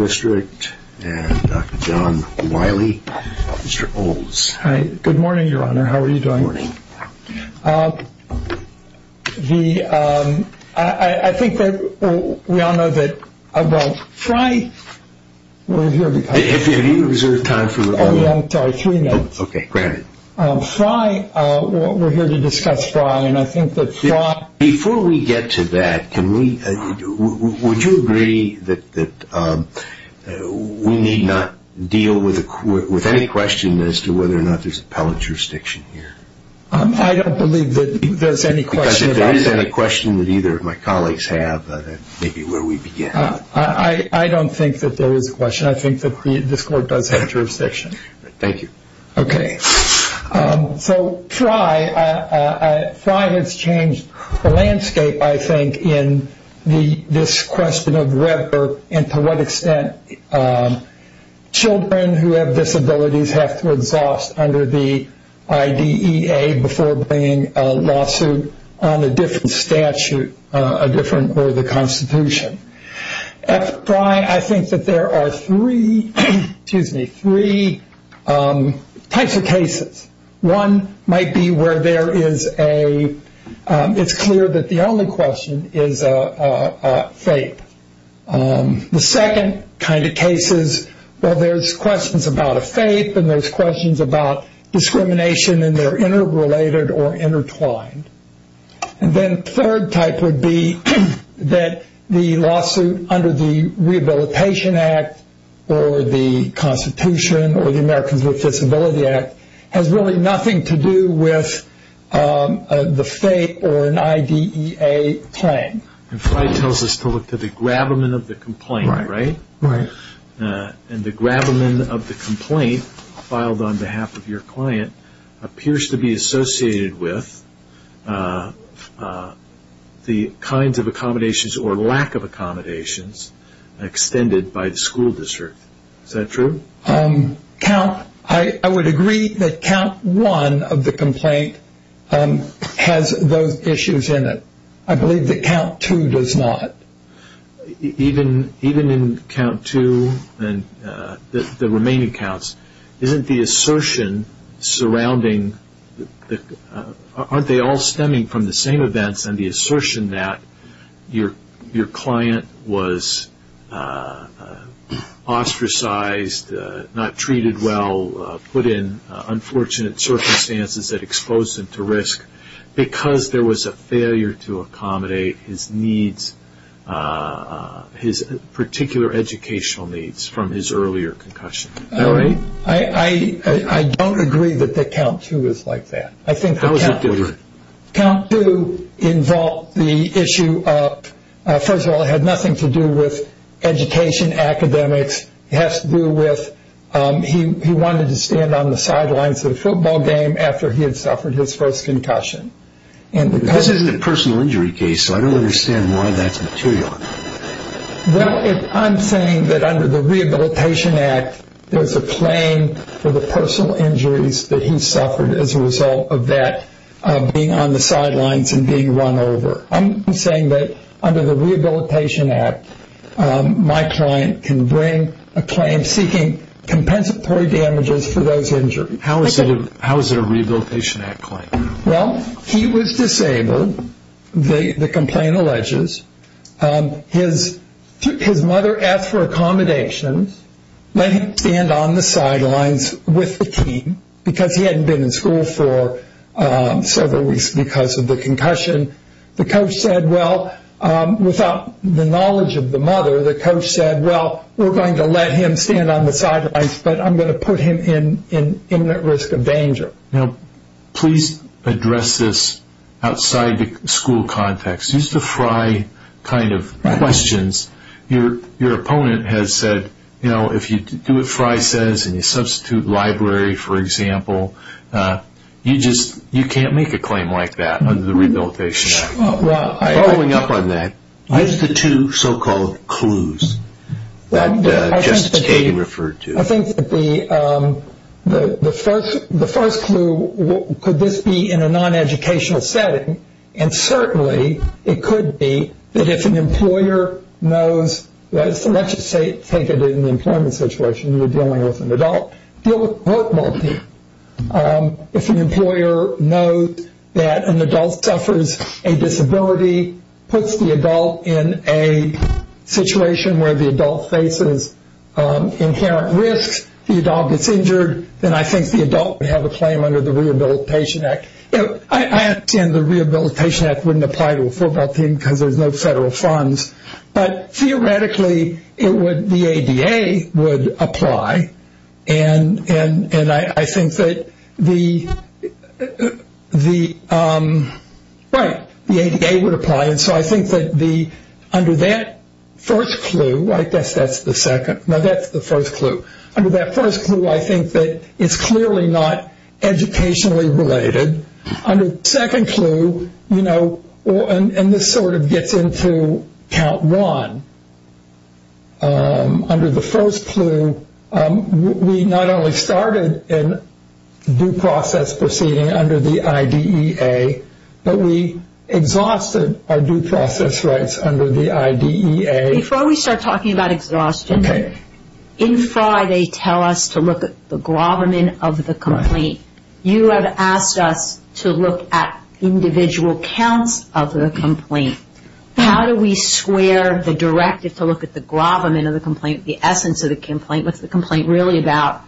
District and Dr. John Wiley, Mr. Olds. Hi. Good morning, Your Honor. How are you doing? Good morning. I think that we all know that about Friday Have you reserved time for... Oh, yeah. Sorry. Three minutes. Okay. Granted. We're here to discuss Fry. Before we get to that, would you agree that we need not deal with any question as to whether or not there's appellate jurisdiction here? I don't believe that there's any question. Because if there is any question that either of my colleagues have, that may be where we begin. I don't think that there is a question. I think that this Court does have jurisdiction. Thank you. Fry has changed the landscape, I think, in this question of whether and to what extent children who have disabilities have to exhaust under the IDEA before bringing a lawsuit on a different statute or the Constitution. At Fry, I think that there are three types of cases. One might be where there is a... it's clear that the only question is a faith. The second kind of case is, well, there's questions about a faith and there's questions about discrimination and they're interrelated or intertwined. And then third type would be that the lawsuit under the Rehabilitation Act or the Constitution or the Americans with Disability Act has really nothing to do with the faith or an IDEA claim. And Fry tells us to look to the grabberment of the complaint, right? Right. And the grabberment of the complaint filed on behalf of your client appears to be associated with the kinds of accommodations or lack of accommodations extended by the school district. Is that true? I would agree that count one of the complaint has those issues in it. I believe that count two does not. Even in count two and the remaining counts, isn't the assertion surrounding... aren't they all stemming from the same events and the assertion that your client was ostracized, not treated well, put in unfortunate circumstances that exposed him to risk because there was a failure to accommodate his needs, his particular educational needs from his earlier concussion. Is that right? I don't agree that count two is like that. I think count two involved the issue of... first of all, it had nothing to do with education, academics. It has to do with he wanted to stand on the sidelines of the football game after he had suffered his first concussion. This isn't a personal injury case, so I don't understand why that's material. I'm saying that under the Rehabilitation Act, there's a claim for the personal injuries that he suffered as a result of that being on the sidelines and being run over. I'm saying that under the Rehabilitation Act, my client can bring a claim seeking compensatory damages for those injuries. How is it a Rehabilitation Act claim? Well, he was disabled, the complaint alleges. His mother asked for accommodations, let him stand on the sidelines with the team because he suffered several weeks because of the concussion. The coach said, well, without the knowledge of the mother, the coach said, well, we're going to let him stand on the sidelines, but I'm going to put him in imminent risk of danger. Now, please address this outside the school context. Use the Fry kind of questions. Your opponent has said, you know, if you do what Fry says and you substitute library, for example, you can't make a claim like that under the Rehabilitation Act. Following up on that, use the two so-called clues that Justice Kagan referred to. I think the first clue could this be in a non-educational setting, and certainly it could be that if an employer knows let's just take it in the employment situation, you're dealing with an adult, you're dealing with a work multi. If an employer knows that an adult suffers a disability, puts the adult in a situation where the adult faces inherent risks, the adult gets injured, then I think the adult would have a claim under the Rehabilitation Act. I understand the Rehabilitation Act wouldn't apply to a full-back team because there's no federal funds, but theoretically the ADA would apply, and I think that the ADA would apply, and so I think that under that first clue, I guess that's the second, no, that's the first clue. Under that first clue, I think that it's clearly not educationally related. Under the second clue, you know, and this sort of gets into count one, under the first clue, we not only started in due process proceeding under the IDEA, but we exhausted our due process rights under the IDEA. Before we start talking about exhaustion, in FRA they tell us to look at the gloverman of the complaint. You have asked us to look at individual counts of the complaint. How do we square the directive to look at the gloverman of the complaint, the essence of the complaint? What's the complaint really about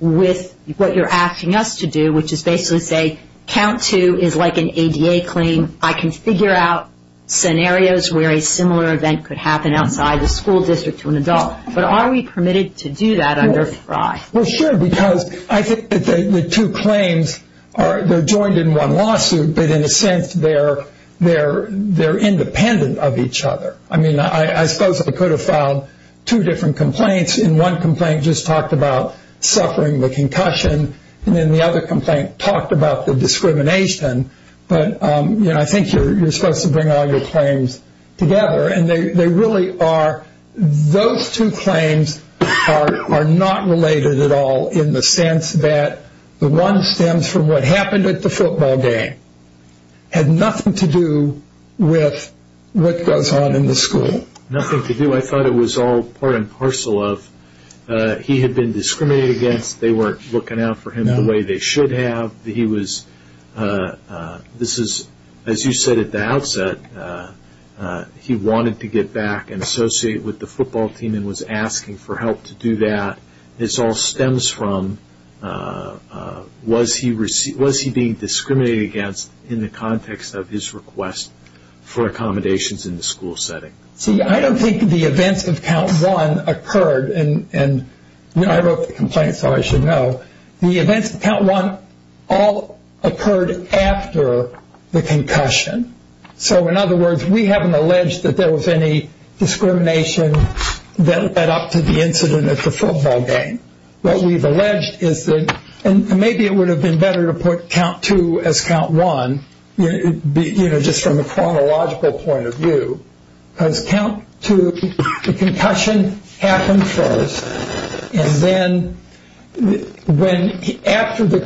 with what you're asking us to do, which is basically say, count two is like an ADA claim. I can figure out scenarios where a similar event could happen outside the school district to an adult, but are we permitted to do that under FRA? Well, sure, because I think that the two claims, they're joined in one lawsuit, but in a sense they're independent of each other. I mean, I suppose we could have filed two different complaints, and one complaint just talked about suffering the concussion, and then the other complaint talked about the discrimination, but I think you're supposed to bring all your claims together, and they really are those two claims are not related at all in the sense that the one stems from what happened at the football game had nothing to do with what goes on in the school. Nothing to do? I thought it was all part and parcel of he had been discriminated against, they weren't looking out for him the way they should have. This is, as you said at the outset, he wanted to get back and associate with the football team and was asking for help to do that. This all stems from was he being discriminated against in the context of his request for accommodations in the school setting? See, I don't think the events of Count 1 occurred and I wrote the complaint, so I should know. The events of Count 1 all occurred after the concussion. So, in other words, we haven't alleged that there was any discrimination that led up to the incident at the football game. What we have alleged is that, and maybe it would have been better to put Count 2 as Count 1, just from a chronological point of view, because Count 2, the concussion happened first, and then after the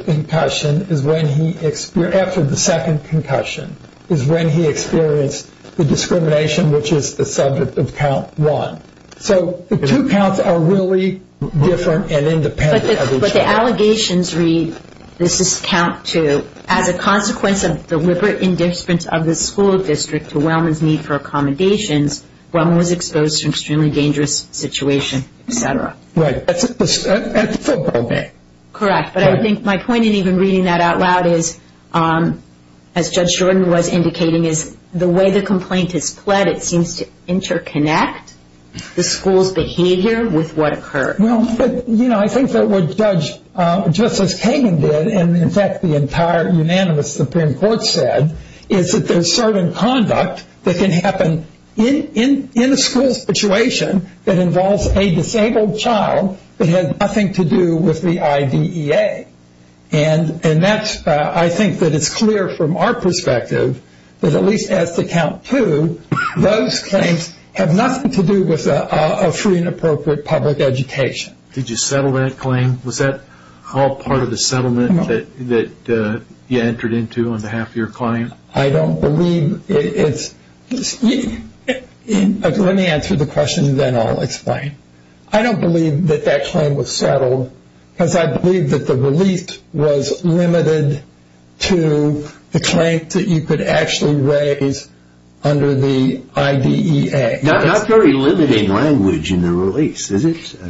second concussion is when he experienced the discrimination which is the subject of Count 1. So, the two But the allegations read this is Count 2, as a consequence of deliberate indifference of the school district to Wellman's need for accommodations, Wellman was exposed to an extremely dangerous situation, etc. Correct, but I think my point in even reading that out loud is, as Judge Jordan was indicating, is the way the complaint is pled, it seems to interconnect the school's behavior with what occurred. I think that what Justice Kagan did, and in fact the entire unanimous Supreme Court said, is that there is certain conduct that can happen in a school situation that involves a disabled child that has nothing to do with the IDEA. And that's, I think that it's clear from our perspective, that at least as to Count 2, those claims have nothing to do with a free and appropriate public education. Did you settle that claim? Was that all part of the settlement that you entered into on behalf of your client? I don't believe it's Let me answer the question, then I'll explain. I don't believe that that claim was settled, because I believe that the relief was limited to the claim that you could actually raise under the IDEA. Not very limiting language in the release, is it?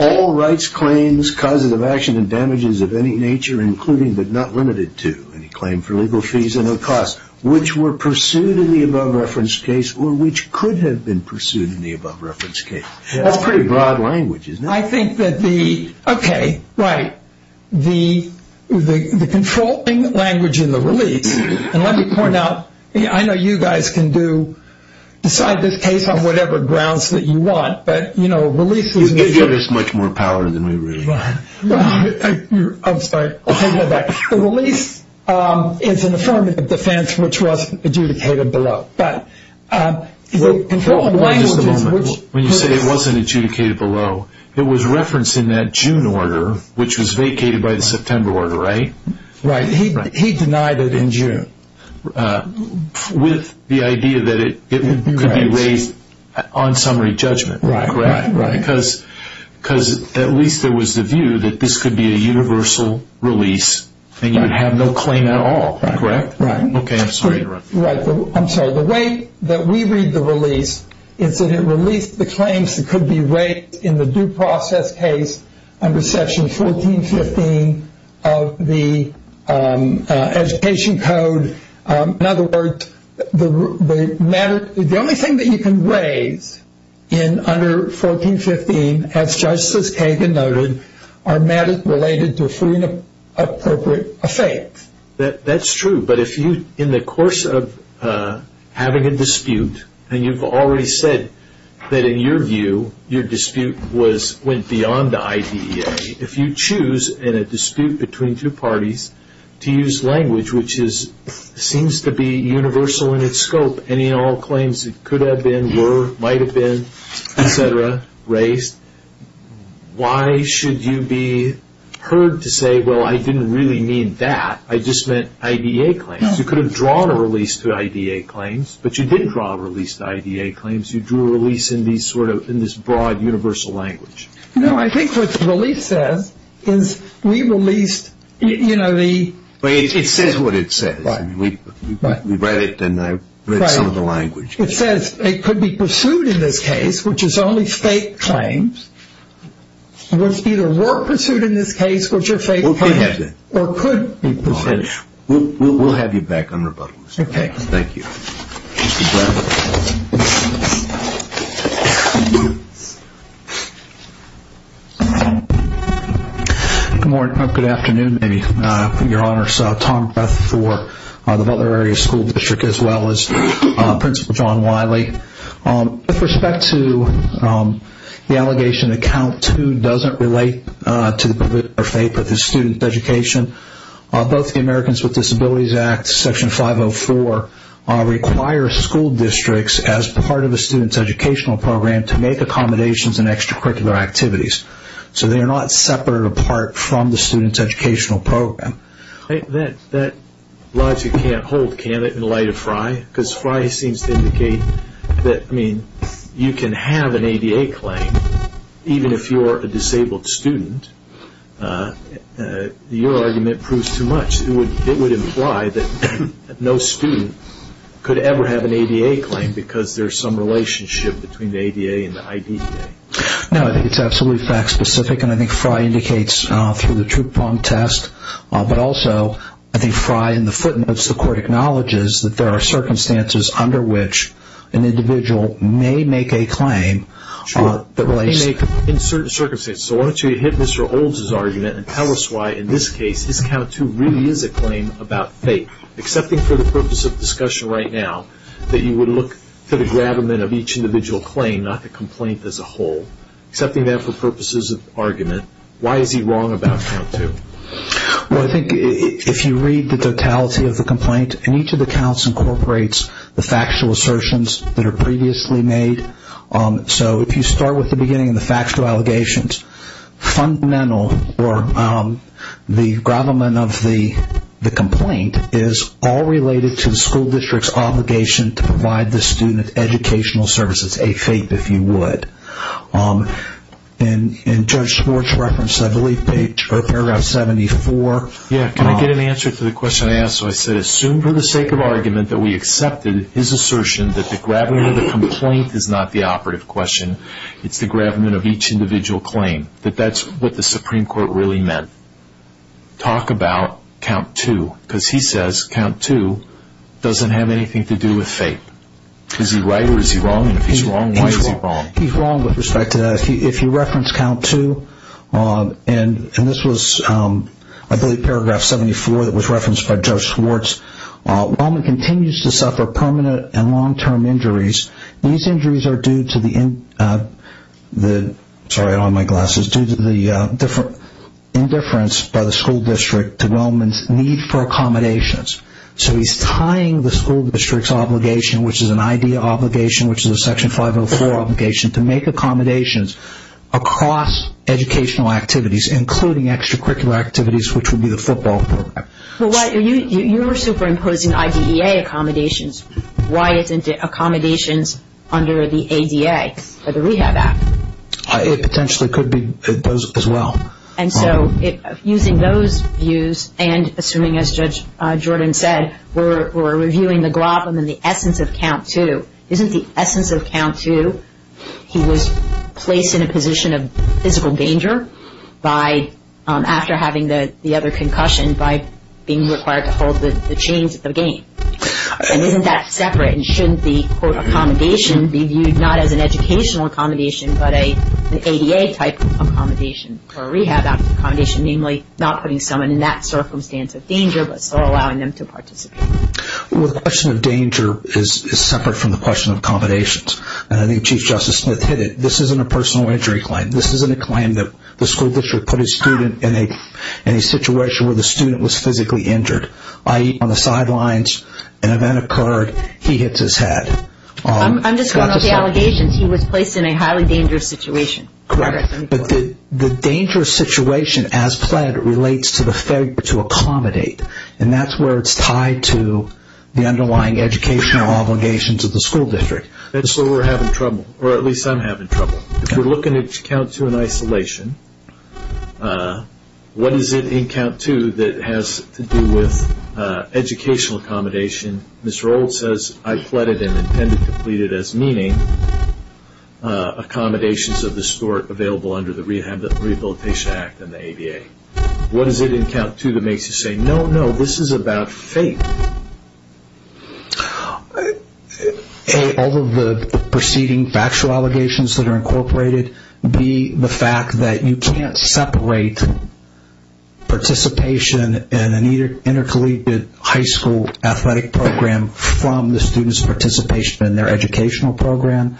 All rights claims causes of action and damages of any nature, including but not limited to any claim for legal fees or no cost, which were pursued in the above reference case, or which could have been pursued in the above reference case. That's pretty broad language, isn't it? I think that the, okay, right. The controlling language in the release and let me point out, I know you guys can do decide this case on whatever grounds that you want, but you know, release is much more power than we really are. I'm sorry, I'll take that back. The release is an affirmative defense which wasn't adjudicated below. When you say it wasn't adjudicated below, it was referenced in that June order, which was vacated by the September order, right? Right. He denied it in June. With the idea that it could be raised on summary judgment, right? Right. Because at least there was the view that this could be a universal release and you would have no claim at all, correct? Right. Okay, I'm sorry to interrupt you. Right. I'm sorry. The way that we read the release is that it released the claims that could be raised in the due process case under section 1415 of the education code. In other words, the matter, the only thing that you can raise in under 1415 as Justice Kagan noted, are matters related to a free and appropriate effect. That's true, but if you, in the course of having a dispute, and you've already said that in your view, your dispute went beyond the IDEA, if you choose in a dispute between two parties to use language which seems to be universal in its scope, any and all claims that could have been, were, might have been, etc., raised, why should you be heard to say, well, I didn't really mean that. I just meant IDEA claims. You could have drawn a release to IDEA claims, but you didn't draw a release to IDEA claims. You drew a release in this broad universal language. No, I think what the release says is we released the... It says what it says. We read it, and I read some of the language. It says it could be pursued in this case, which is only fake claims. It's either were pursued in this case, which are fake claims, or could be pursued. We'll have you back on rebuttal. Okay. Thank you. Thank you. Good morning. Good morning. Good afternoon, your honors. Tom Greth for the Butler Area School District, as well as Principal John Wiley. With respect to the allegation that Count 2 doesn't relate to the student education, both the Americans with Disabilities Act, Section 504, require school districts, as part of a student's educational program, to make accommodations in extracurricular activities. They are not separate or apart from the student's educational program. That logic can't hold, can it, in light of Fry? Fry seems to indicate that you can have an ADA claim, even if you're a disabled student. Your argument proves too much. It would imply that no student could ever have an ADA claim, because there's some relationship between the ADA and the IDA. No, I think it's absolutely fact specific, and I think Fry indicates through the test, but also, I think Fry, in the footnotes, the court acknowledges that there are circumstances under which an individual may make a claim. Sure. In certain circumstances. So why don't you hit Mr. Olds' argument and tell us why, in this case, count two really is a claim about faith, excepting for the purpose of discussion right now, that you would look for the gravamen of each individual claim, not the complaint as a whole. Excepting that for purposes of argument, why is he wrong about count two? Well, I think if you read the totality of the complaint, and each of the counts incorporates the factual assertions that are previously made, so if you start with the beginning and the factual allegations, fundamental or the gravamen of the complaint is all related to the school district's obligation to provide the student educational services, a faith, if you would. And Judge Schwartz referenced, I believe, paragraph 74. Yeah, can I get an answer to the question I asked, so I said assume for the sake of argument that we accepted his assertion that the gravamen of the complaint is not the operative question, it's the gravamen of each individual claim, that that's what the Supreme Court really meant. Talk about count two, because he says count two doesn't have anything to do with faith. Is he right or is he wrong, and if he's wrong, why is he wrong? He's wrong with respect to that. If you reference count two, and this was, I believe, paragraph 74 that was referenced by Judge Schwartz, Walman continues to suffer permanent and long-term injuries. These injuries are due to the sorry, I don't have my glasses, due to the indifference by the school district to Walman's need for accommodations. So he's tying the school district's obligation, which is an IDEA obligation, which is a section 504 obligation, to make accommodations across educational activities, including extracurricular activities, which would be the football program. Well, you were superimposing IDEA accommodations. Why isn't it accommodations under the ADA or the Rehab Act? It potentially could be imposed as well. And so using those views and assuming, as Judge Jordan said, we're reviewing the gravamen and the essence of count two, isn't the essence of count two he was placed in a position of physical danger by, after having the other concussion, by being required to hold the chains of the game? And isn't that accommodation be viewed not as an educational accommodation, but an ADA-type accommodation or Rehab Act accommodation, namely not putting someone in that circumstance of danger, but still allowing them to participate? Well, the question of danger is separate from the question of accommodations. And I think Chief Justice Smith hit it. This isn't a personal injury claim. This isn't a claim that the school district put a student in a situation where the student was physically injured, i.e., on the sidelines, an event occurred, he hits his head. I'm just coming off the allegations. He was placed in a highly dangerous situation. Correct. But the dangerous situation as pled relates to the failure to accommodate. And that's where it's tied to the underlying educational obligations of the school district. That's where we're having trouble, or at least I'm having trouble. If we're looking at count two in isolation, what is it in count two that has to do with educational accommodation? Mr. Old says, I pleaded and intended to plead it as meaning accommodations of the sort available under the Rehabilitation Act and the ADA. What is it in count two that makes you say, no, no, this is about faith? A, all of the preceding factual allegations that are incorporated. B, the fact that you can't separate participation in an intercollegiate high school athletic program from the student's participation in their educational program.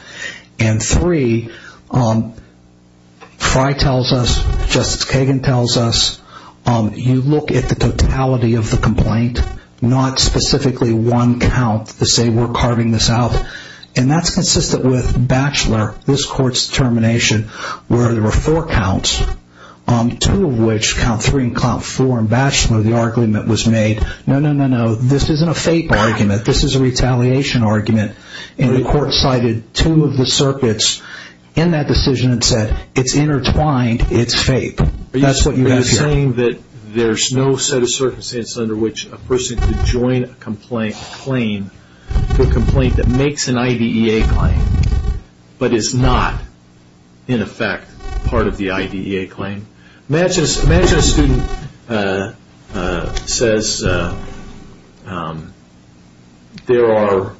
And three, Fry tells us, Justice Kagan tells us, you look at the totality of the complaint, not specifically one count to say we're carving this out. And that's consistent with Batchelor, this court's determination, where there were four counts, two of which, count three and count four in Batchelor, the argument was made, no, no, no, no, this isn't a faith argument, this is a retaliation argument. And the court cited two of the circuits in that decision and said, it's intertwined, it's faith. That's what you have here. Are you saying that there's no set of circumstances under which a person could join a complaint that makes an IDEA claim, but is not, in effect, part of the IDEA claim? Imagine a student says there are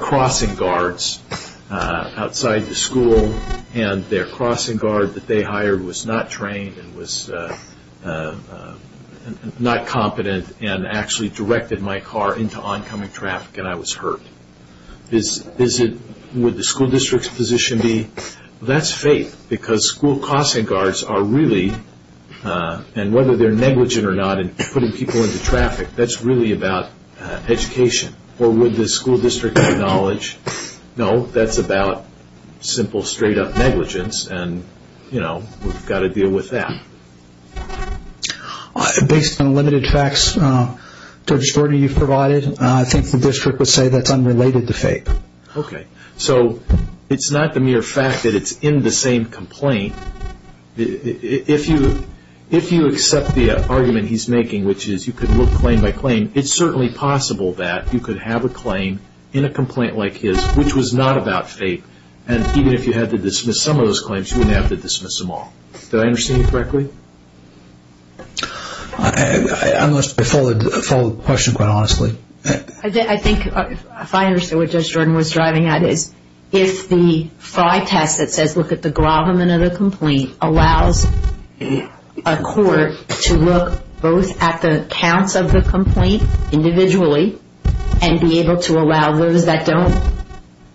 crossing guards outside the school and their crossing guard that they hired was not trained and was not competent and actually directed my car into oncoming traffic and I was hurt. Would the school district's position be, that's faith, because school crossing guards are really and whether they're negligent or not in putting people into traffic, that's really about education. Or would the school district acknowledge no, that's about simple, straight up negligence and we've got to deal with that. Based on limited facts, Judge Gordy, you've provided, I think the district would say that's unrelated to faith. Okay, so it's not the mere fact that it's in the same complaint. If you accept the argument he's making, which is you could look claim by claim, it's certainly possible that you could have a claim in a complaint like his which was not about faith and even if you had to dismiss some of those claims, you wouldn't have to dismiss them all. Did I understand you correctly? I must have followed the question quite honestly. I think, if I understood what Judge Jordan was driving at is if the F.R.I.E. test that says look at the gravamen of the complaint allows a court to look both at the counts of the complaint individually and be able to allow those that don't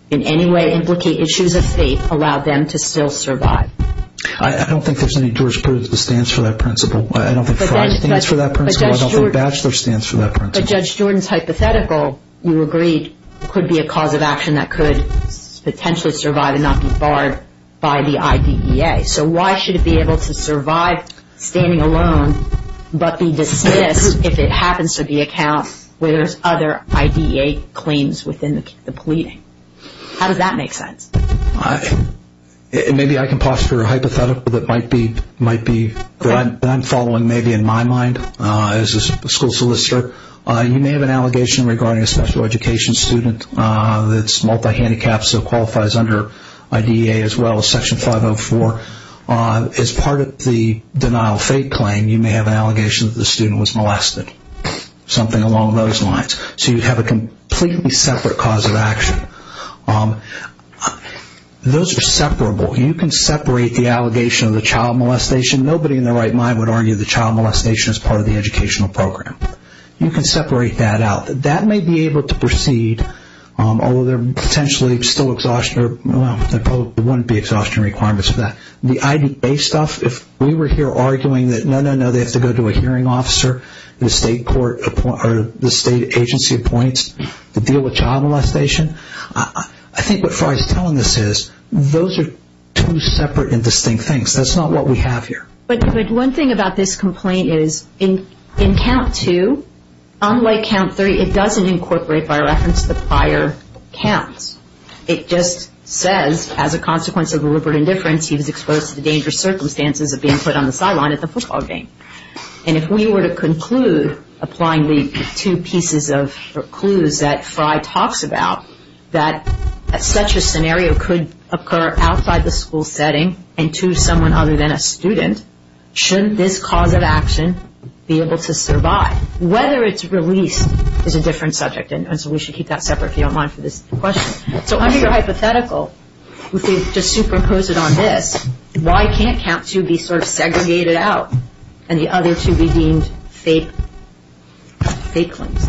in any way implicate issues of faith, allow them to still survive. I don't think there's any jurisprudence that stands for that principle. I don't think F.R.I.E. stands for that principle. I don't think the statute stands for that principle. But Judge Jordan's hypothetical, you agreed could be a cause of action that could potentially survive and not be barred by the I.D.E.A. So why should it be able to survive standing alone but be dismissed if it happens to be a count where there's other I.D.E.A. claims within the pleading? How does that make sense? Maybe I can pose for a hypothetical that might be that I'm following maybe in my mind as a school solicitor. You may have an allegation regarding a special education student that's multi-handicapped so qualifies under I.D.E.A. as well as Section 504 as part of the denial of faith claim you may have an allegation that the student was molested. Something along those lines. So you have a completely separate cause of action. Those are separable. You can separate the allegation of the child molestation nobody in their right mind would argue the child molestation is part of the educational program. You can separate that out. That may be able to proceed although there potentially still exhaustion, well there probably wouldn't be exhaustion requirements for that. The I.D.E.A. stuff, if we were here arguing that no, no, no they have to go to a hearing officer, the state agency appoints to deal with child molestation I think what Fry's telling us is those are two separate and distinct things. That's not what we have here. But one thing about this complaint is in count two, unlike count three, it doesn't incorporate by reference the prior counts. It just says as a consequence of deliberate indifference he was exposed to the dangerous circumstances of being put on the sideline at the football game. And if we were to conclude applying the two pieces of clues that Fry talks about that such a scenario could occur outside the school setting and to someone other than a student shouldn't this cause of action be able to survive? Whether it's released is a different subject and so we should keep that separate if you don't mind for this question. So under your hypothetical, if we just superimpose it on this, why can't count two be sort of segregated out and the other two be deemed fake claims?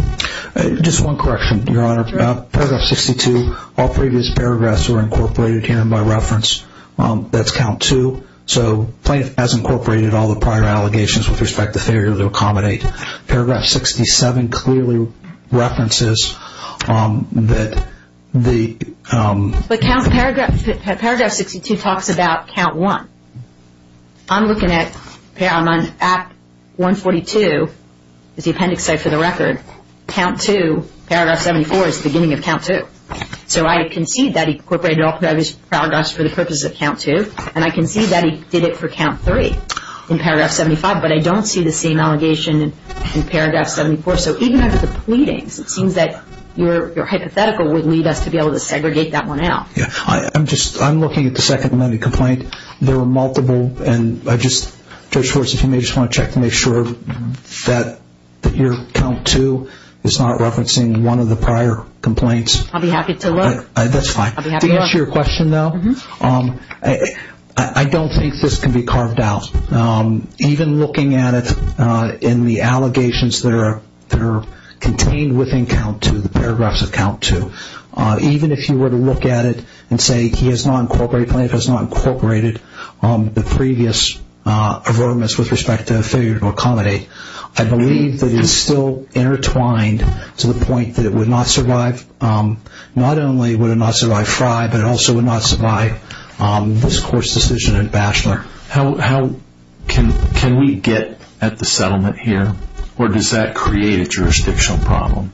Just one correction, Your Honor. Paragraph 62 all previous paragraphs were incorporated here by reference. That's count two. So plaintiff has incorporated all the prior allegations with respect to failure to accommodate. Paragraph 67 clearly references that the Paragraph 62 talks about count one. I'm looking at, I'm on Act 142 as the appendix says for the record. Count two, paragraph 74 is the beginning of count two. So I concede that he incorporated all the previous paragraphs for the purpose of count two and I concede that he did it for count three in paragraph 75. But I don't see the same allegation in paragraph 74. So even under the pleadings, it seems that your hypothetical would lead us to be able to segregate that one out. I'm just, I'm looking at the second amendment complaint. There were multiple and I just, Judge Schwartz, if you may just want to check to make sure that your count two is not referencing one of the prior complaints. I'll be happy to look. That's fine. To answer your question though, I don't think this can be carved out. Even looking at it in the allegations that are contained within count two, the paragraphs of count two. Even if you were to look at it and say he has not incorporated, plaintiff has not incorporated the previous avertments with respect to failure to accommodate. I believe that it is still intertwined to the point that it would not survive, not only would it not survive Fry, but it also would not survive this court's decision in Batchelor. Can we get at the settlement here or does that create a jurisdictional problem?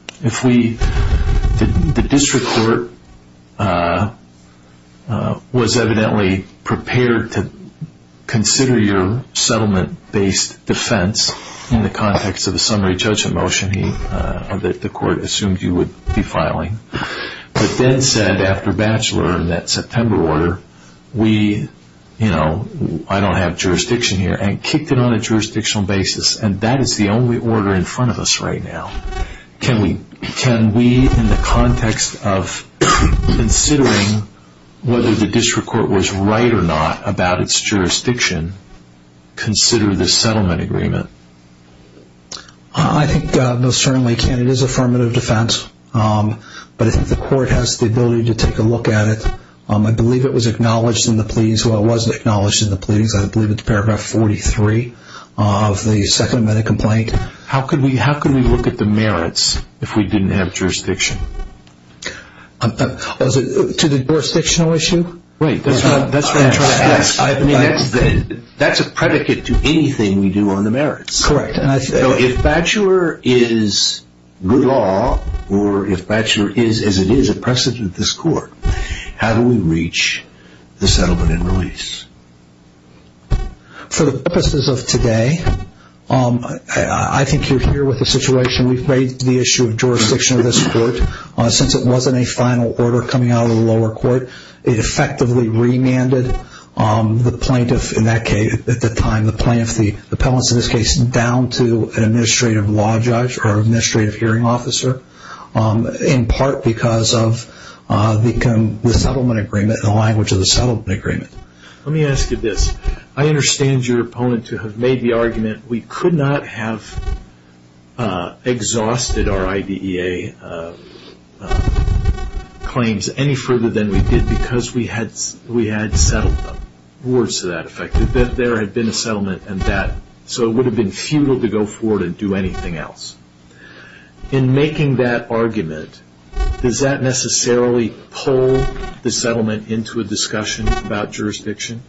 was evidently prepared to consider your settlement based defense in the context of a summary judgment motion that the court assumed you would be filing. But then said after Batchelor, that September order, we you know, I don't have jurisdiction here and kicked it on a jurisdictional basis and that is the only order in front of us right now. Can we, in the context of considering whether the district court was right or not about its through the settlement agreement? I think most certainly it can. It is affirmative defense. But I think the court has the ability to take a look at it. I believe it was acknowledged in the pleadings. Well, it wasn't acknowledged in the pleadings. I believe it is paragraph 43 of the second amendment complaint. How could we look at the merits if we didn't have jurisdiction? To the jurisdictional issue? That's what I'm trying to ask. That's a predicate to anything we do on the merits. If Batchelor is good law or if Batchelor is as it is a precedent at this court, how do we reach the settlement and release? For the purposes of today I think you're here with the situation. We've made the issue of jurisdiction of this court. Since it wasn't a final order coming out of the lower court, it effectively remanded the plaintiff in that case at the time, the plaintiff, the appellants in this case down to an administrative law judge or administrative hearing officer in part because of the settlement agreement and the language of the settlement agreement. I understand your opponent to have made the argument we could not have exhausted our IDEA claims any further than we did because we had settled them. Words to that effect. There had been a settlement and that, so it would have been futile to go forward and do anything else. In making that argument does that necessarily pull the settlement into a discussion about jurisdiction?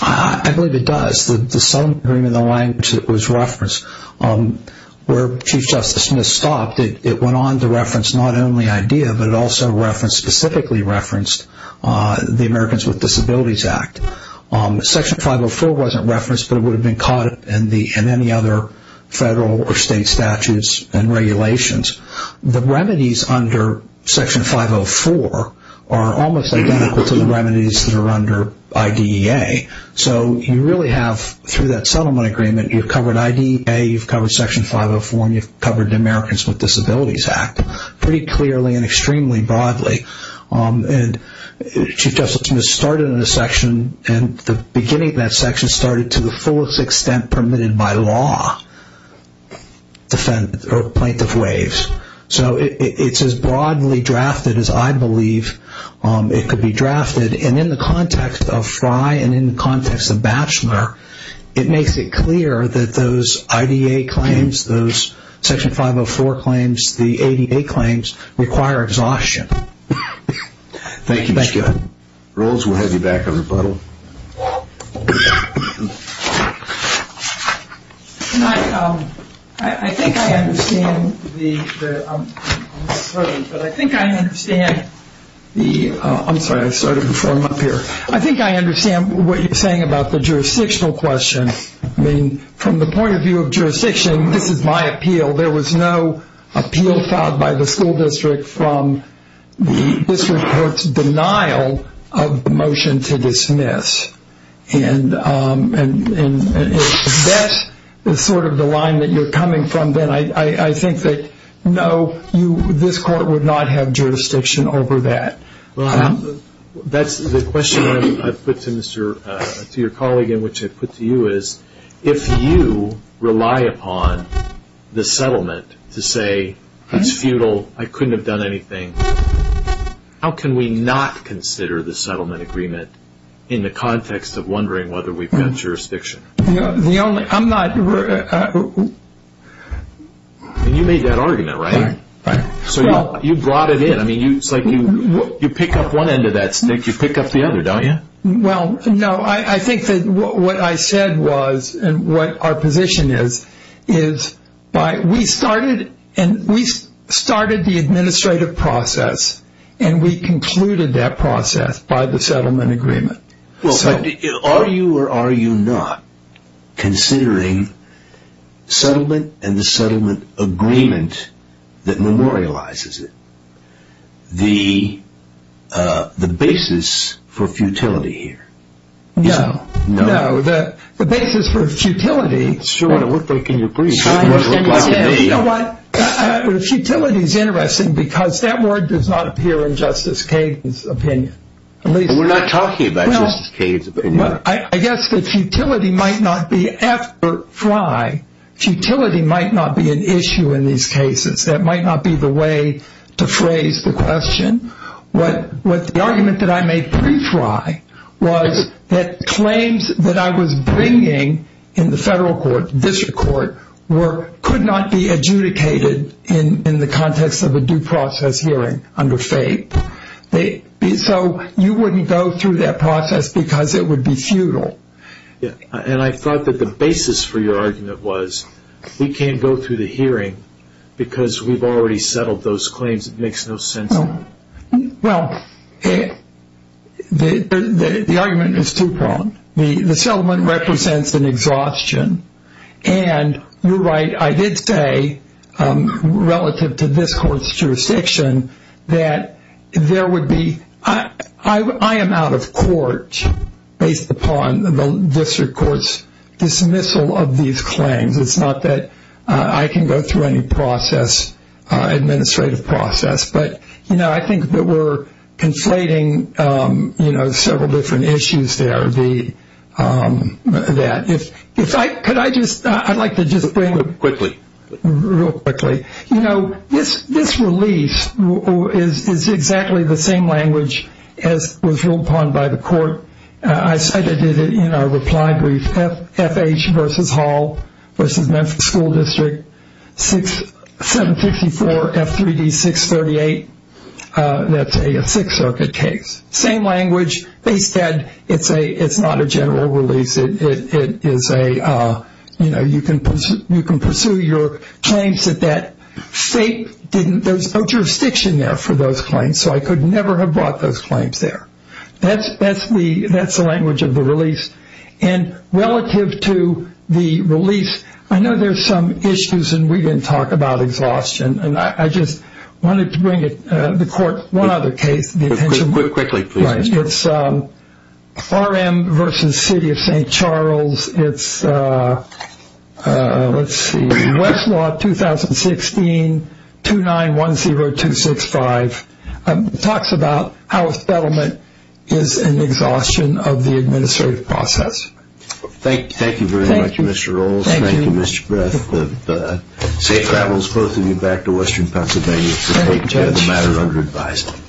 I believe it does. The settlement agreement and the language that was referenced, where Chief Justice Smith stopped, it went on to reference not only IDEA, but it also specifically referenced the Americans with Disabilities Act. Section 504 wasn't referenced, but it would have been caught in any other federal or state statutes and regulations. The remedies under Section 504 are almost identical to the remedies that are under IDEA. You really have, through that settlement agreement, you've covered IDEA, you've covered Americans with Disabilities Act, pretty clearly and extremely broadly. Chief Justice Smith started in a section and the beginning of that section started to the fullest extent permitted by law, plaintiff waives. It's as broadly drafted as I believe it could be drafted. In the context of Frye and in the context of Batchelor, it makes it clear that those IDEA claims, those Section 504 claims, the ADA claims require exhaustion. Thank you. Rose, we'll have you back on rebuttal. I think I understand the I'm sorry, I started before I'm up here. I think I understand what you're saying about the jurisdictional question. From the point of view of jurisdiction, this is my appeal. There was no appeal filed by the school district from this report's denial of the motion to dismiss. That is sort of the line that you're coming from then. I think that no, this court would not have jurisdiction over that. That's the question I've put to your colleague and which I put to you is if you rely upon the settlement to say it's futile, I couldn't have done anything, how can we not consider the settlement agreement in the context of wondering whether we've got jurisdiction? You made that argument, right? You brought it in. You pick up one end of that stick, you pick up the other, don't you? What I said was and what our position is we started the administrative process and we concluded that process by the settlement agreement. Are you or are you not considering settlement and the settlement agreement that memorializes it? The basis for futility here. No. The basis for futility. Futility is interesting because that word does not appear in Justice Cade's opinion. We're not talking about Justice Cade's opinion. I guess that futility might not be an issue in these cases. That might not be the way to phrase the question. The argument that I made pre-fly was that claims that I was bringing in the federal court, district court could not be adjudicated in the context of a due process hearing under FAPE. You wouldn't go through that process because it would be futile. I thought that the basis for your argument was we can't go through the hearing because we've already settled those claims. It makes no sense. The argument is too prompt. The settlement represents an exhaustion. You're right. I did say relative to this court's jurisdiction that there would be, I am out of court based upon the district court's dismissal of these claims. It's not that I can go through any administrative process. I think that we're conflating several different issues there. I'd like to just bring real quickly. This release is exactly the same language as was ruled upon by the court. I cited it in our reply brief. FH versus Hall versus Memphis School District. 754 F3D 638. That's a Sixth Circuit case. Same language. They said it's not a general release. It is a, you know, you can pursue your claims that that state didn't, there's no jurisdiction there for those claims so I could never have brought those claims there. That's the language of the release. Relative to the release, I know there's some issues and we didn't talk about exhaustion. I just wanted to bring it to the court. One other case. RM versus City of St. Charles. It's Westlaw 2016 2910265. Talks about how a settlement is an exhaustion of the administrative process. Thank you very much, Mr. Rolls. Thank you, Mr. Griffith. Safe travels, both of you, back to Western Pennsylvania to take the matter under advisement.